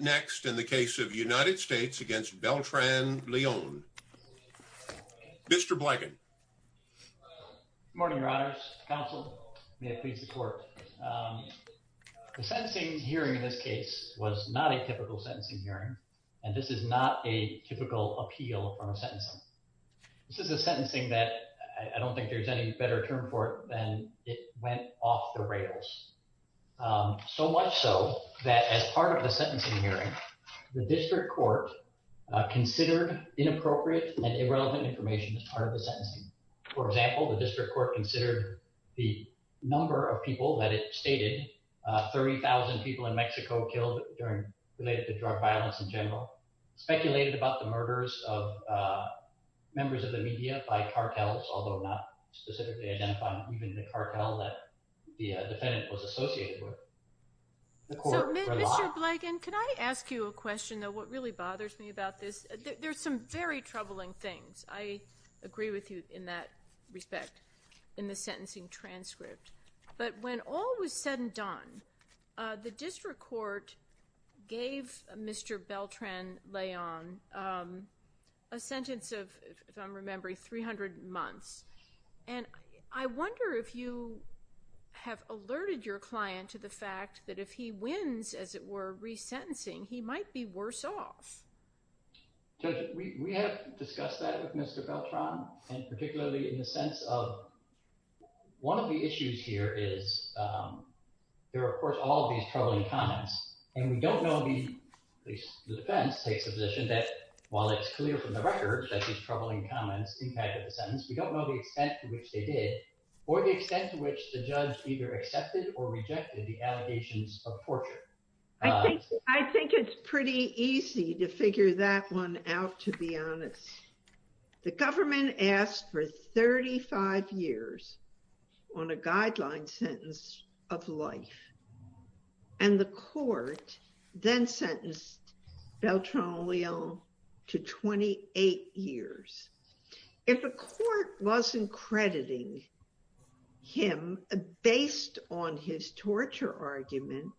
next in the case of United States against Beltran-Leon. Mr. Blanken. Good morning, your honors. Counsel, may it please the court. The sentencing hearing in this case was not a typical sentencing hearing and this is not a typical appeal from a sentencing. This is a sentencing that I don't think there's any better term for it than it went off the rails. So much so that as part of the sentencing hearing, the district court considered inappropriate and irrelevant information as part of the sentencing. For example, the district court considered the number of people that it stated 30,000 people in Mexico killed during related to drug violence in general, speculated about the murders of members of the media by cartels, although not specifically identifying even the cartel that the defendant was associated with. Mr. Blanken, can I ask you a question though? What really bothers me about this? There's some very troubling things. I agree with you in that respect in the sentencing transcript, but when all was said and done, the district court gave Mr. Beltran-Leon a sentence of, if I'm remembering, 300 months. And I wonder if you have alerted your client to the fact that if he wins, as it were, resentencing, he might be worse off. Judge, we have discussed that with Mr. Beltran and particularly in the sense of one of the issues here is there are, of course, all these troubling comments and we don't know, at least the defense takes the position, that while it's clear from records that these troubling comments impacted the sentence, we don't know the extent to which they did or the extent to which the judge either accepted or rejected the allegations of torture. I think it's pretty easy to figure that one out, to be honest. The government asked for 35 years on a guideline sentence of life. And the court then sentenced Beltran-Leon to 28 years. If the court wasn't crediting him based on his torture argument,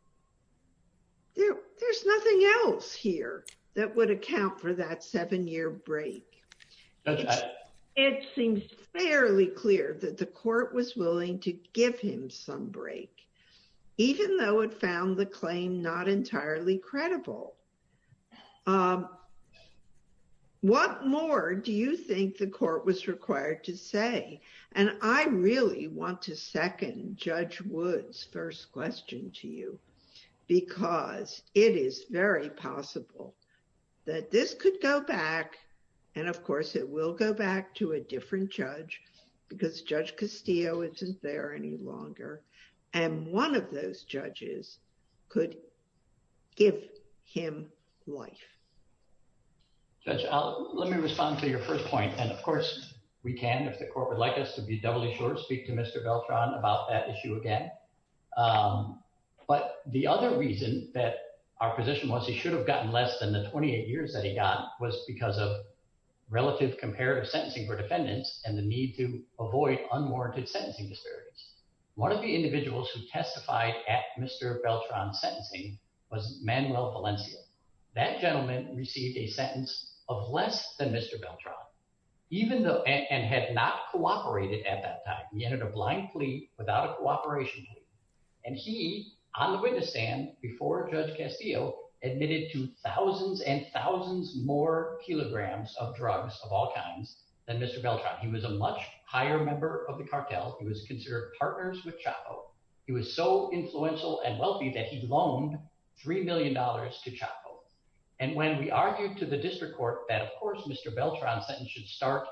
there's nothing else here that would account for that seven-year break. It seems fairly clear that the court was willing to give him some break, even though it found the claim not entirely credible. What more do you think the court was required to say? And I really want to second Judge Wood's question to you, because it is very possible that this could go back, and of course it will go back to a different judge, because Judge Castillo isn't there any longer, and one of those judges could give him life. Judge, let me respond to your first point, and of course we can if the court wants to. But the other reason that our position was he should have gotten less than the 28 years that he got was because of relative comparative sentencing for defendants and the need to avoid unwarranted sentencing disparities. One of the individuals who testified at Mr. Beltran's sentencing was Manuel Valencia. That gentleman received a sentence of less than Mr. Beltran, and had not cooperated at that time. He entered a blind plea without a cooperation plea. And he, on the witness stand before Judge Castillo, admitted to thousands and thousands more kilograms of drugs of all kinds than Mr. Beltran. He was a much higher member of the cartel. He was considered partners with Chapo. He was so influential and wealthy that he loaned three million dollars to Chapo. And when we argued to the district court that of course Mr. Beltran's sentence should start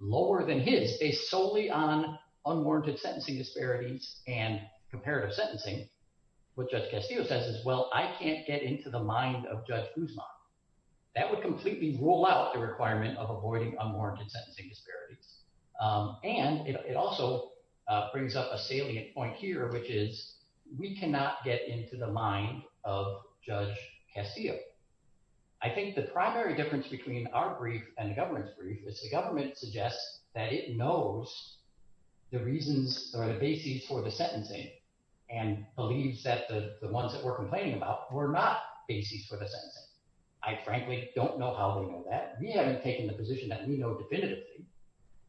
lower than his, based solely on unwarranted sentencing disparities and comparative sentencing, what Judge Castillo says is well I can't get into the mind of Judge Guzman. That would completely rule out the requirement of avoiding unwarranted sentencing disparities. And it also brings up a salient point here which is we cannot get into the mind of Judge Castillo. I think the primary difference between our brief and the government's brief is the sentencing and believes that the the ones that we're complaining about were not bases for the sentencing. I frankly don't know how they know that. We haven't taken the position that we know definitively.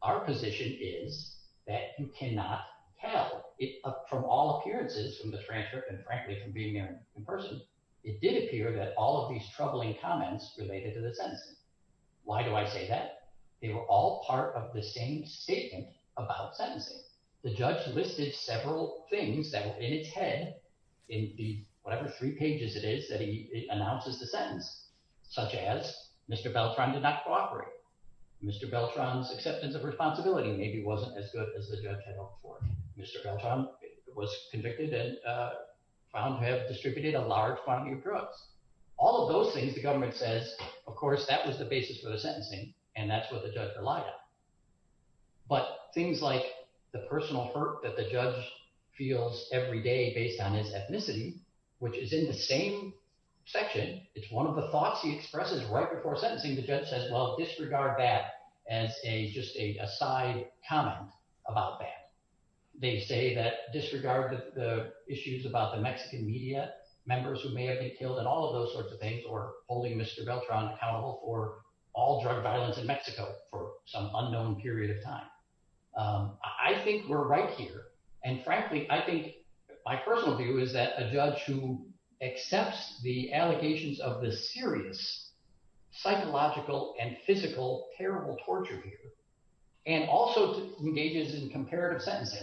Our position is that you cannot tell it from all appearances from the transcript and frankly from being there in person. It did appear that all of these troubling comments related to the sentencing. Why do I say that? They were all part of the same statement about sentencing. The judge listed several things that were in its head in the whatever three pages it is that he announces the sentence, such as Mr. Beltran did not cooperate. Mr. Beltran's acceptance of responsibility maybe wasn't as good as the judge had hoped for. Mr. Beltran was convicted and found to have distributed a large quantity of drugs. All of those things the government says of course that was the basis for the sentencing and that's what the judge relied on. But things like the personal hurt that the judge feels every day based on his ethnicity, which is in the same section. It's one of the thoughts he expresses right before sentencing. The judge says well disregard that as a just a side comment about that. They say that disregard the issues about the Mexican media members who may have been killed and all of those sorts of things holding Mr. Beltran accountable for all drug violence in Mexico for some unknown period of time. I think we're right here and frankly I think my personal view is that a judge who accepts the allegations of the serious psychological and physical terrible torture and also engages in comparative sentencing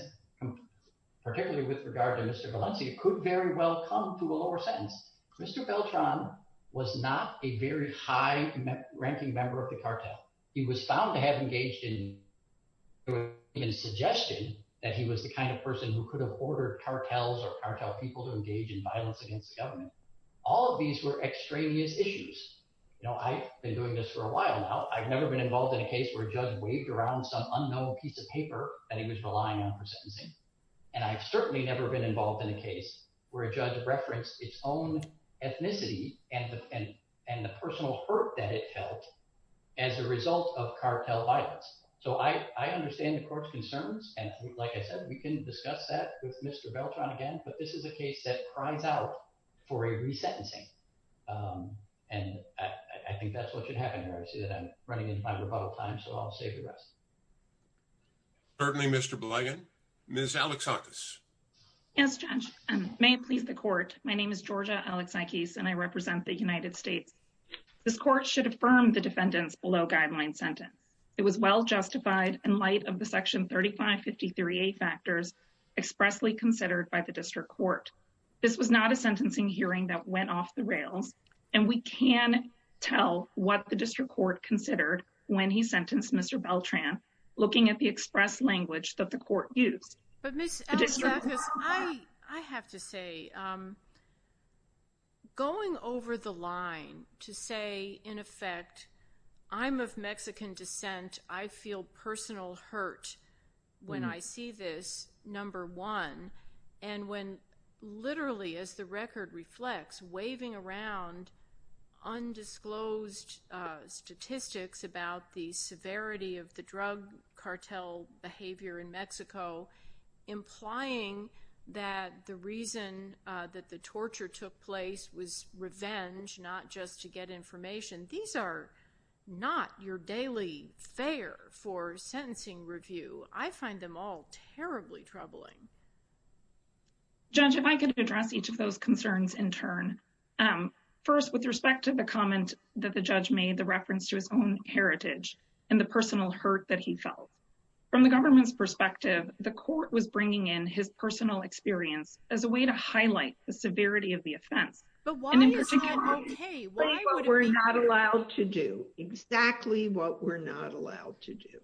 particularly with regard to Mr. Valencia could very well come to a lower sentence. Mr. Beltran was not a very high ranking member of the cartel. He was found to have engaged in suggestion that he was the kind of person who could have ordered cartels or cartel people to engage in violence against the government. All of these were extraneous issues. I've been doing this for a while now. I've never been involved in a case where a judge waved around some unknown piece of paper that he was relying on for sentencing and I've certainly never been involved in a case where a judge referenced its own ethnicity and the personal hurt that it felt as a result of cartel violence. So I understand the court's concerns and like I said we can discuss that with Mr. Beltran again but this is a case that cries out for a resentencing and I think that's what should happen here. I see that I'm running into my rebuttal time so I'll save the rest. Certainly Mr. Blagan. Ms. Alexakis. Yes Judge. May it please the court. My name is Georgia Alexakis and I represent the United States. This court should affirm the defendant's below guideline sentence. It was well justified in light of the section 3553a factors expressly considered by the district court. This was not a sentencing hearing that went off the rails and we can tell what the language that the court used. But Ms. Alexakis I have to say going over the line to say in effect I'm of Mexican descent I feel personal hurt when I see this number one and when literally as the behavior in Mexico implying that the reason that the torture took place was revenge not just to get information. These are not your daily fare for sentencing review. I find them all terribly troubling. Judge if I could address each of those concerns in turn. First with respect to the comment that the judge made the reference to his own heritage and the personal hurt that he felt. From the government's perspective the court was bringing in his personal experience as a way to highlight the severity of the offense. But why is that okay? What we're not allowed to do. Exactly what we're not allowed to do.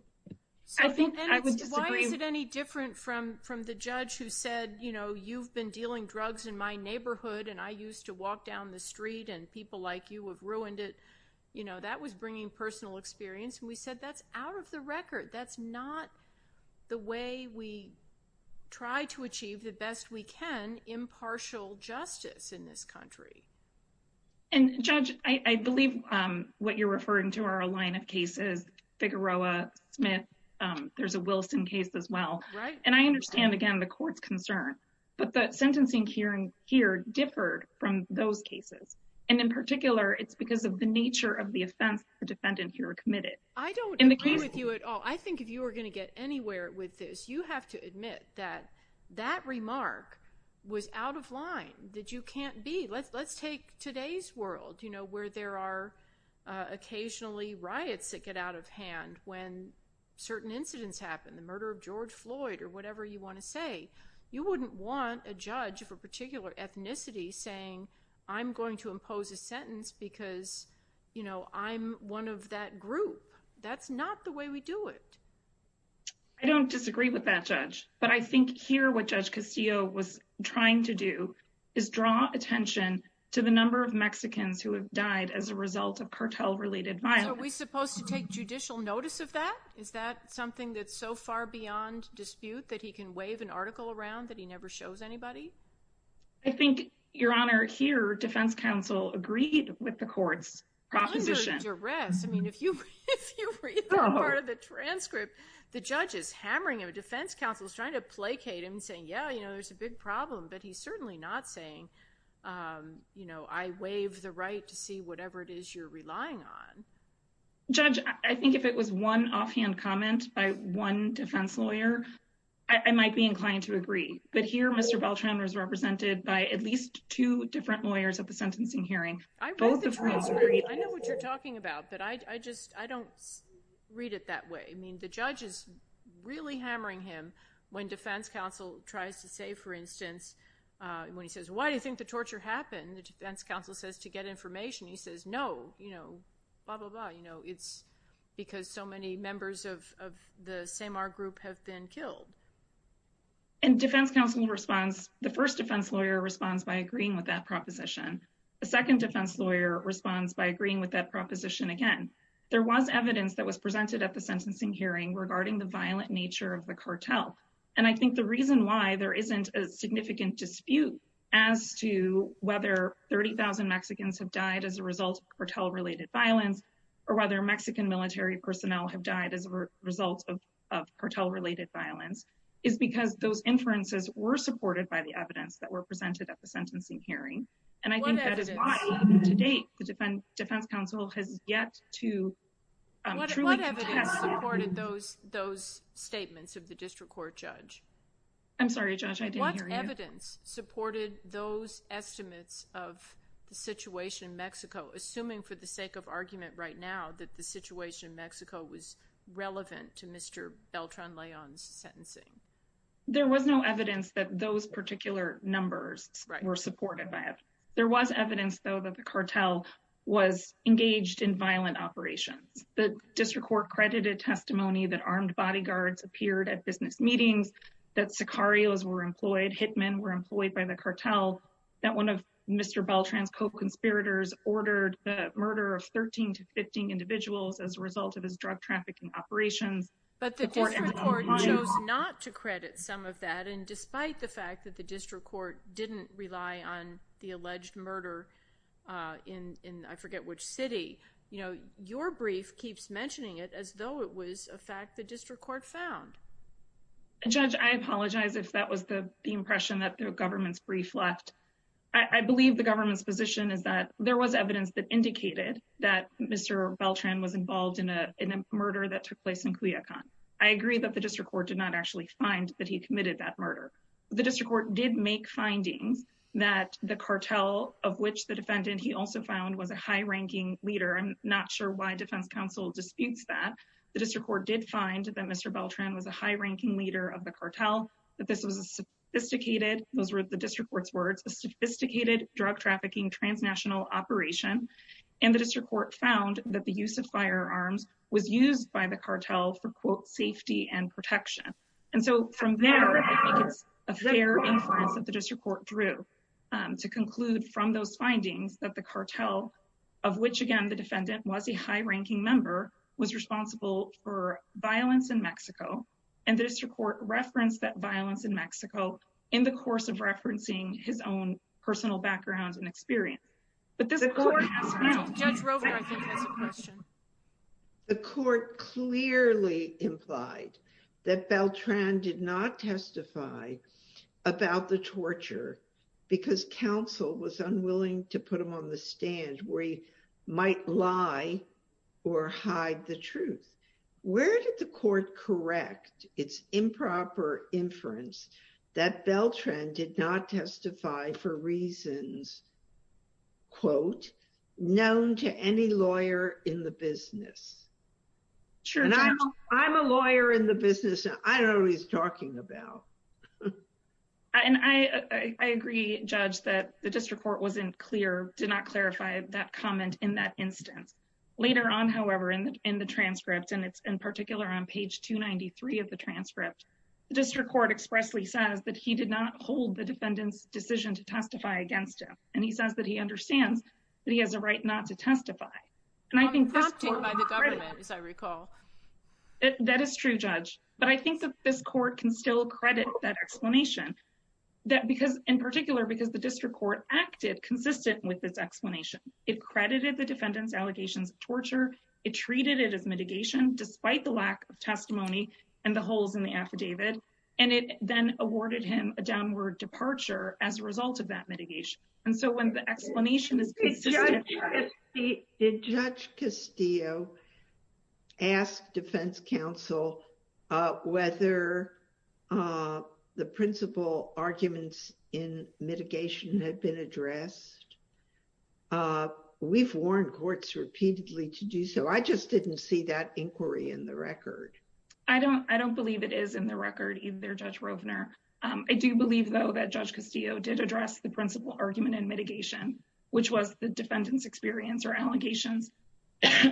I think I would disagree. Why is it any different from from the judge who said you know you've been dealing drugs in my neighborhood and I used to walk down the street and people like you have ruined it. You know that was bringing personal experience and said that's out of the record. That's not the way we try to achieve the best we can impartial justice in this country. And judge I believe what you're referring to are a line of cases. Figueroa, Smith, there's a Wilson case as well. Right. And I understand again the court's concern but the sentencing hearing here differed from those cases and in particular it's because of the nature of the offense the defendant here committed. I don't agree with you at all. I think if you were going to get anywhere with this you have to admit that that remark was out of line. That you can't be. Let's take today's world you know where there are occasionally riots that get out of hand when certain incidents happen. The murder of George Floyd or whatever you want to say. You wouldn't want a judge of a particular ethnicity saying I'm going to impose a sentence because you know I'm one of that group. That's not the way we do it. I don't disagree with that judge but I think here what Judge Castillo was trying to do is draw attention to the number of Mexicans who have died as a result of cartel related violence. Are we supposed to take judicial notice of that? Is that something that's so far beyond dispute that he can waive an article around that he never shows anybody? I think your honor here defense counsel agreed with the court's proposition. I mean if you part of the transcript the judge is hammering him. Defense counsel is trying to placate him and saying yeah you know there's a big problem but he's certainly not saying you know I waive the right to see whatever it is you're relying on. Judge I think if it was one offhand comment by one defense lawyer I might be inclined to agree but here Mr. Beltran was represented by at least two different lawyers at the sentencing hearing. I know what you're talking about but I just I don't read it that way. I mean the judge is really hammering him when defense counsel tries to say for instance when he says why do you think torture happened? The defense counsel says to get information. He says no you know blah blah blah you know it's because so many members of the SEMAR group have been killed. And defense counsel responds the first defense lawyer responds by agreeing with that proposition. The second defense lawyer responds by agreeing with that proposition again. There was evidence that was presented at the sentencing hearing regarding the violent nature of the cartel and I think the reason why there isn't a significant dispute as to whether 30,000 Mexicans have died as a result of cartel-related violence or whether Mexican military personnel have died as a result of cartel-related violence is because those inferences were supported by the evidence that were presented at the sentencing hearing and I think that is why even today the defense counsel has yet to truly test that. Those statements of the district court judge. I'm sorry judge I didn't hear you. What evidence supported those estimates of the situation in Mexico assuming for the sake of argument right now that the situation in Mexico was relevant to Mr. Beltran-Leon's sentencing? There was no evidence that those particular numbers were supported by it. There was evidence though that the cartel was engaged in violent operations. The district court credited testimony that armed bodyguards appeared at business meetings, that sicarios were employed, hitmen were employed by the cartel, that one of Mr. Beltran's co-conspirators ordered the murder of 13 to 15 individuals as a result of his drug trafficking operations. But the district court chose not to credit some of that and despite the fact that the district court didn't rely on the alleged murder in I forget which city, you know your brief keeps mentioning it as though it was a fact the district court found. Judge I apologize if that was the impression that the government's brief left. I believe the government's position is that there was evidence that indicated that Mr. Beltran was involved in a murder that took place in Cuyacán. I agree that the district court did not actually find that he committed that murder. The district court did make findings that the cartel of which the defendant he also found was a high-ranking leader. I'm not sure why defense counsel disputes that. The district court did find that Mr. Beltran was a high-ranking leader of the cartel, that this was a sophisticated, those were the district court's words, a sophisticated drug trafficking transnational operation and the district court found that the use of firearms was used by the cartel for quote safety and protection. And so from there I think it's a fair inference that the district court drew to conclude from those findings that the cartel of which again the defendant was a high-ranking member was responsible for violence in Mexico and the district court referenced that violence in Mexico in the course of referencing his own the court clearly implied that Beltran did not testify about the torture because counsel was unwilling to put him on the stand where he might lie or hide the truth. Where did the court correct its improper inference that Beltran did not testify for reasons quote known to any lawyer in the business? Sure. I'm a lawyer in the business I don't know who he's talking about. And I agree judge that the district court wasn't clear, did not clarify that comment in that instance. Later on however in the transcript and it's in particular on page 293 of the transcript the district court expressly says that he did not hold the defendant's decision to testify against him and he says that he understands that he has a right not to testify. I'm prompted by the government as I recall. That is true judge but I think that this court can still credit that explanation that because in particular because the district court acted consistent with this explanation. It credited the defendant's allegations of torture, it treated it as mitigation despite the lack of testimony and the holes in the affidavit and it then awarded him a downward departure as a result of that mitigation. And so when the explanation is consistent. Did judge Castillo ask defense counsel whether the principal arguments in mitigation had been addressed? We've warned courts repeatedly to do so. I just didn't see that inquiry in the record. I don't believe it is in the record either judge Rovner. I do believe though that judge Castillo did address the principal argument in mitigation which was the defendant's experience or allegations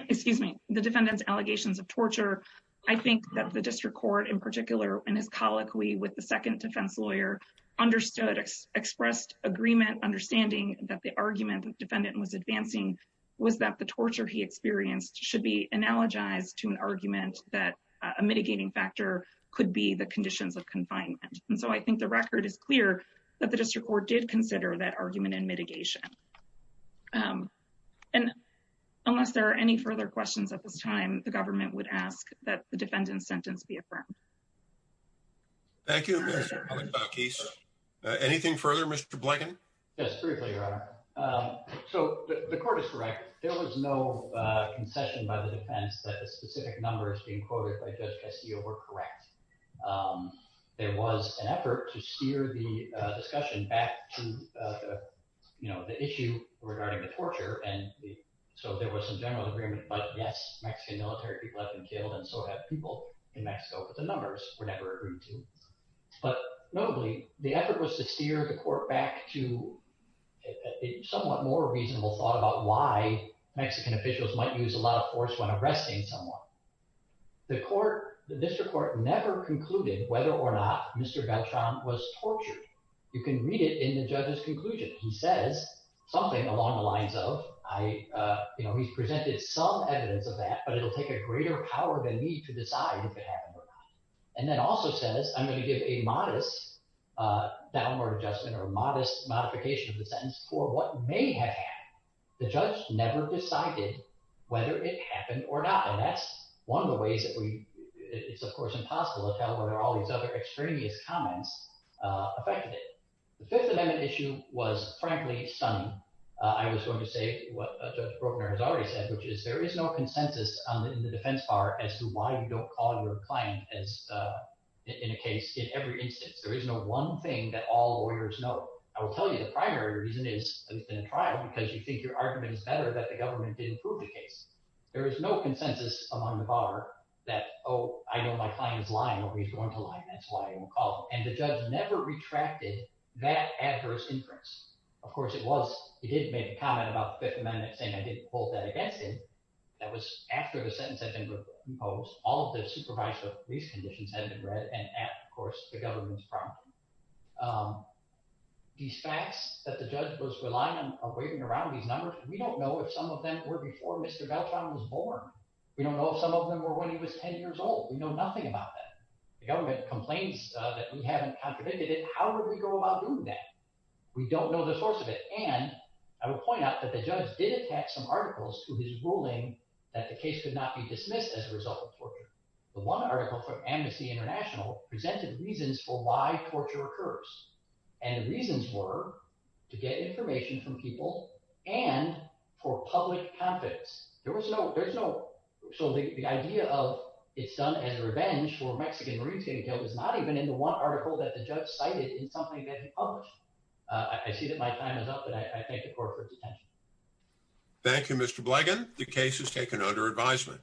excuse me the defendant's allegations of torture. I think that the district court in particular and his colloquy with the second defense lawyer understood expressed agreement understanding that the argument the defendant was advancing was that the torture he experienced should be analogized to an argument that a mitigating factor could be the conditions of confinement. And so I think the record is clear that the district court did consider that argument in mitigation. And unless there are any further questions at this time the government would ask that the defendant's sentence be affirmed. Thank you. Anything further Mr. Blanken? Yes briefly your honor. So the court is correct there was no concession by the defense that the specific numbers being quoted by judge Castillo were correct. There was an effort to steer the discussion back to you know the issue regarding the torture and so there was some general agreement but yes Mexican military people have been killed and people in Mexico but the numbers were never agreed to. But notably the effort was to steer the court back to a somewhat more reasonable thought about why Mexican officials might use a lot of force when arresting someone. The court the district court never concluded whether or not Mr. Beltran was tortured. You can read it in the judge's conclusion. He says something along the to decide if it happened or not. And then also says I'm going to give a modest downward adjustment or modest modification of the sentence for what may have happened. The judge never decided whether it happened or not and that's one of the ways that we it's of course impossible to tell whether all these other extraneous comments affected it. The fifth amendment issue was frankly stunning. I was going to say what Judge Brokner has already said which is there is no consensus in the defense bar as to why you don't call your client as in a case in every instance. There is no one thing that all lawyers know. I will tell you the primary reason is in a trial because you think your argument is better that the government didn't prove the case. There is no consensus among the bar that oh I know my client is lying or he's going to lie that's why he won't call and the judge never retracted that adverse inference. Of course it was he did make a comment about the fifth amendment saying I pulled that against him. That was after the sentence had been proposed. All of the supervisory police conditions had been read and at of course the government's property. These facts that the judge was relying on are waving around these numbers we don't know if some of them were before Mr. Beltran was born. We don't know if some of them were when he was 10 years old. We know nothing about that. The government complains that we haven't contradicted it. How would we go about that? We don't know the source of it and I will point out that the judge did attach some articles to his ruling that the case could not be dismissed as a result of torture. The one article from Amnesty International presented reasons for why torture occurs and the reasons were to get information from people and for public confidence. There was no there's no so the idea of it's done as revenge for Mexican Marines getting killed was not even in the one article that the judge cited in something that he published. I see that my time is up but I thank the court for its attention. Thank you Mr. Blegin. The case is taken under advisement.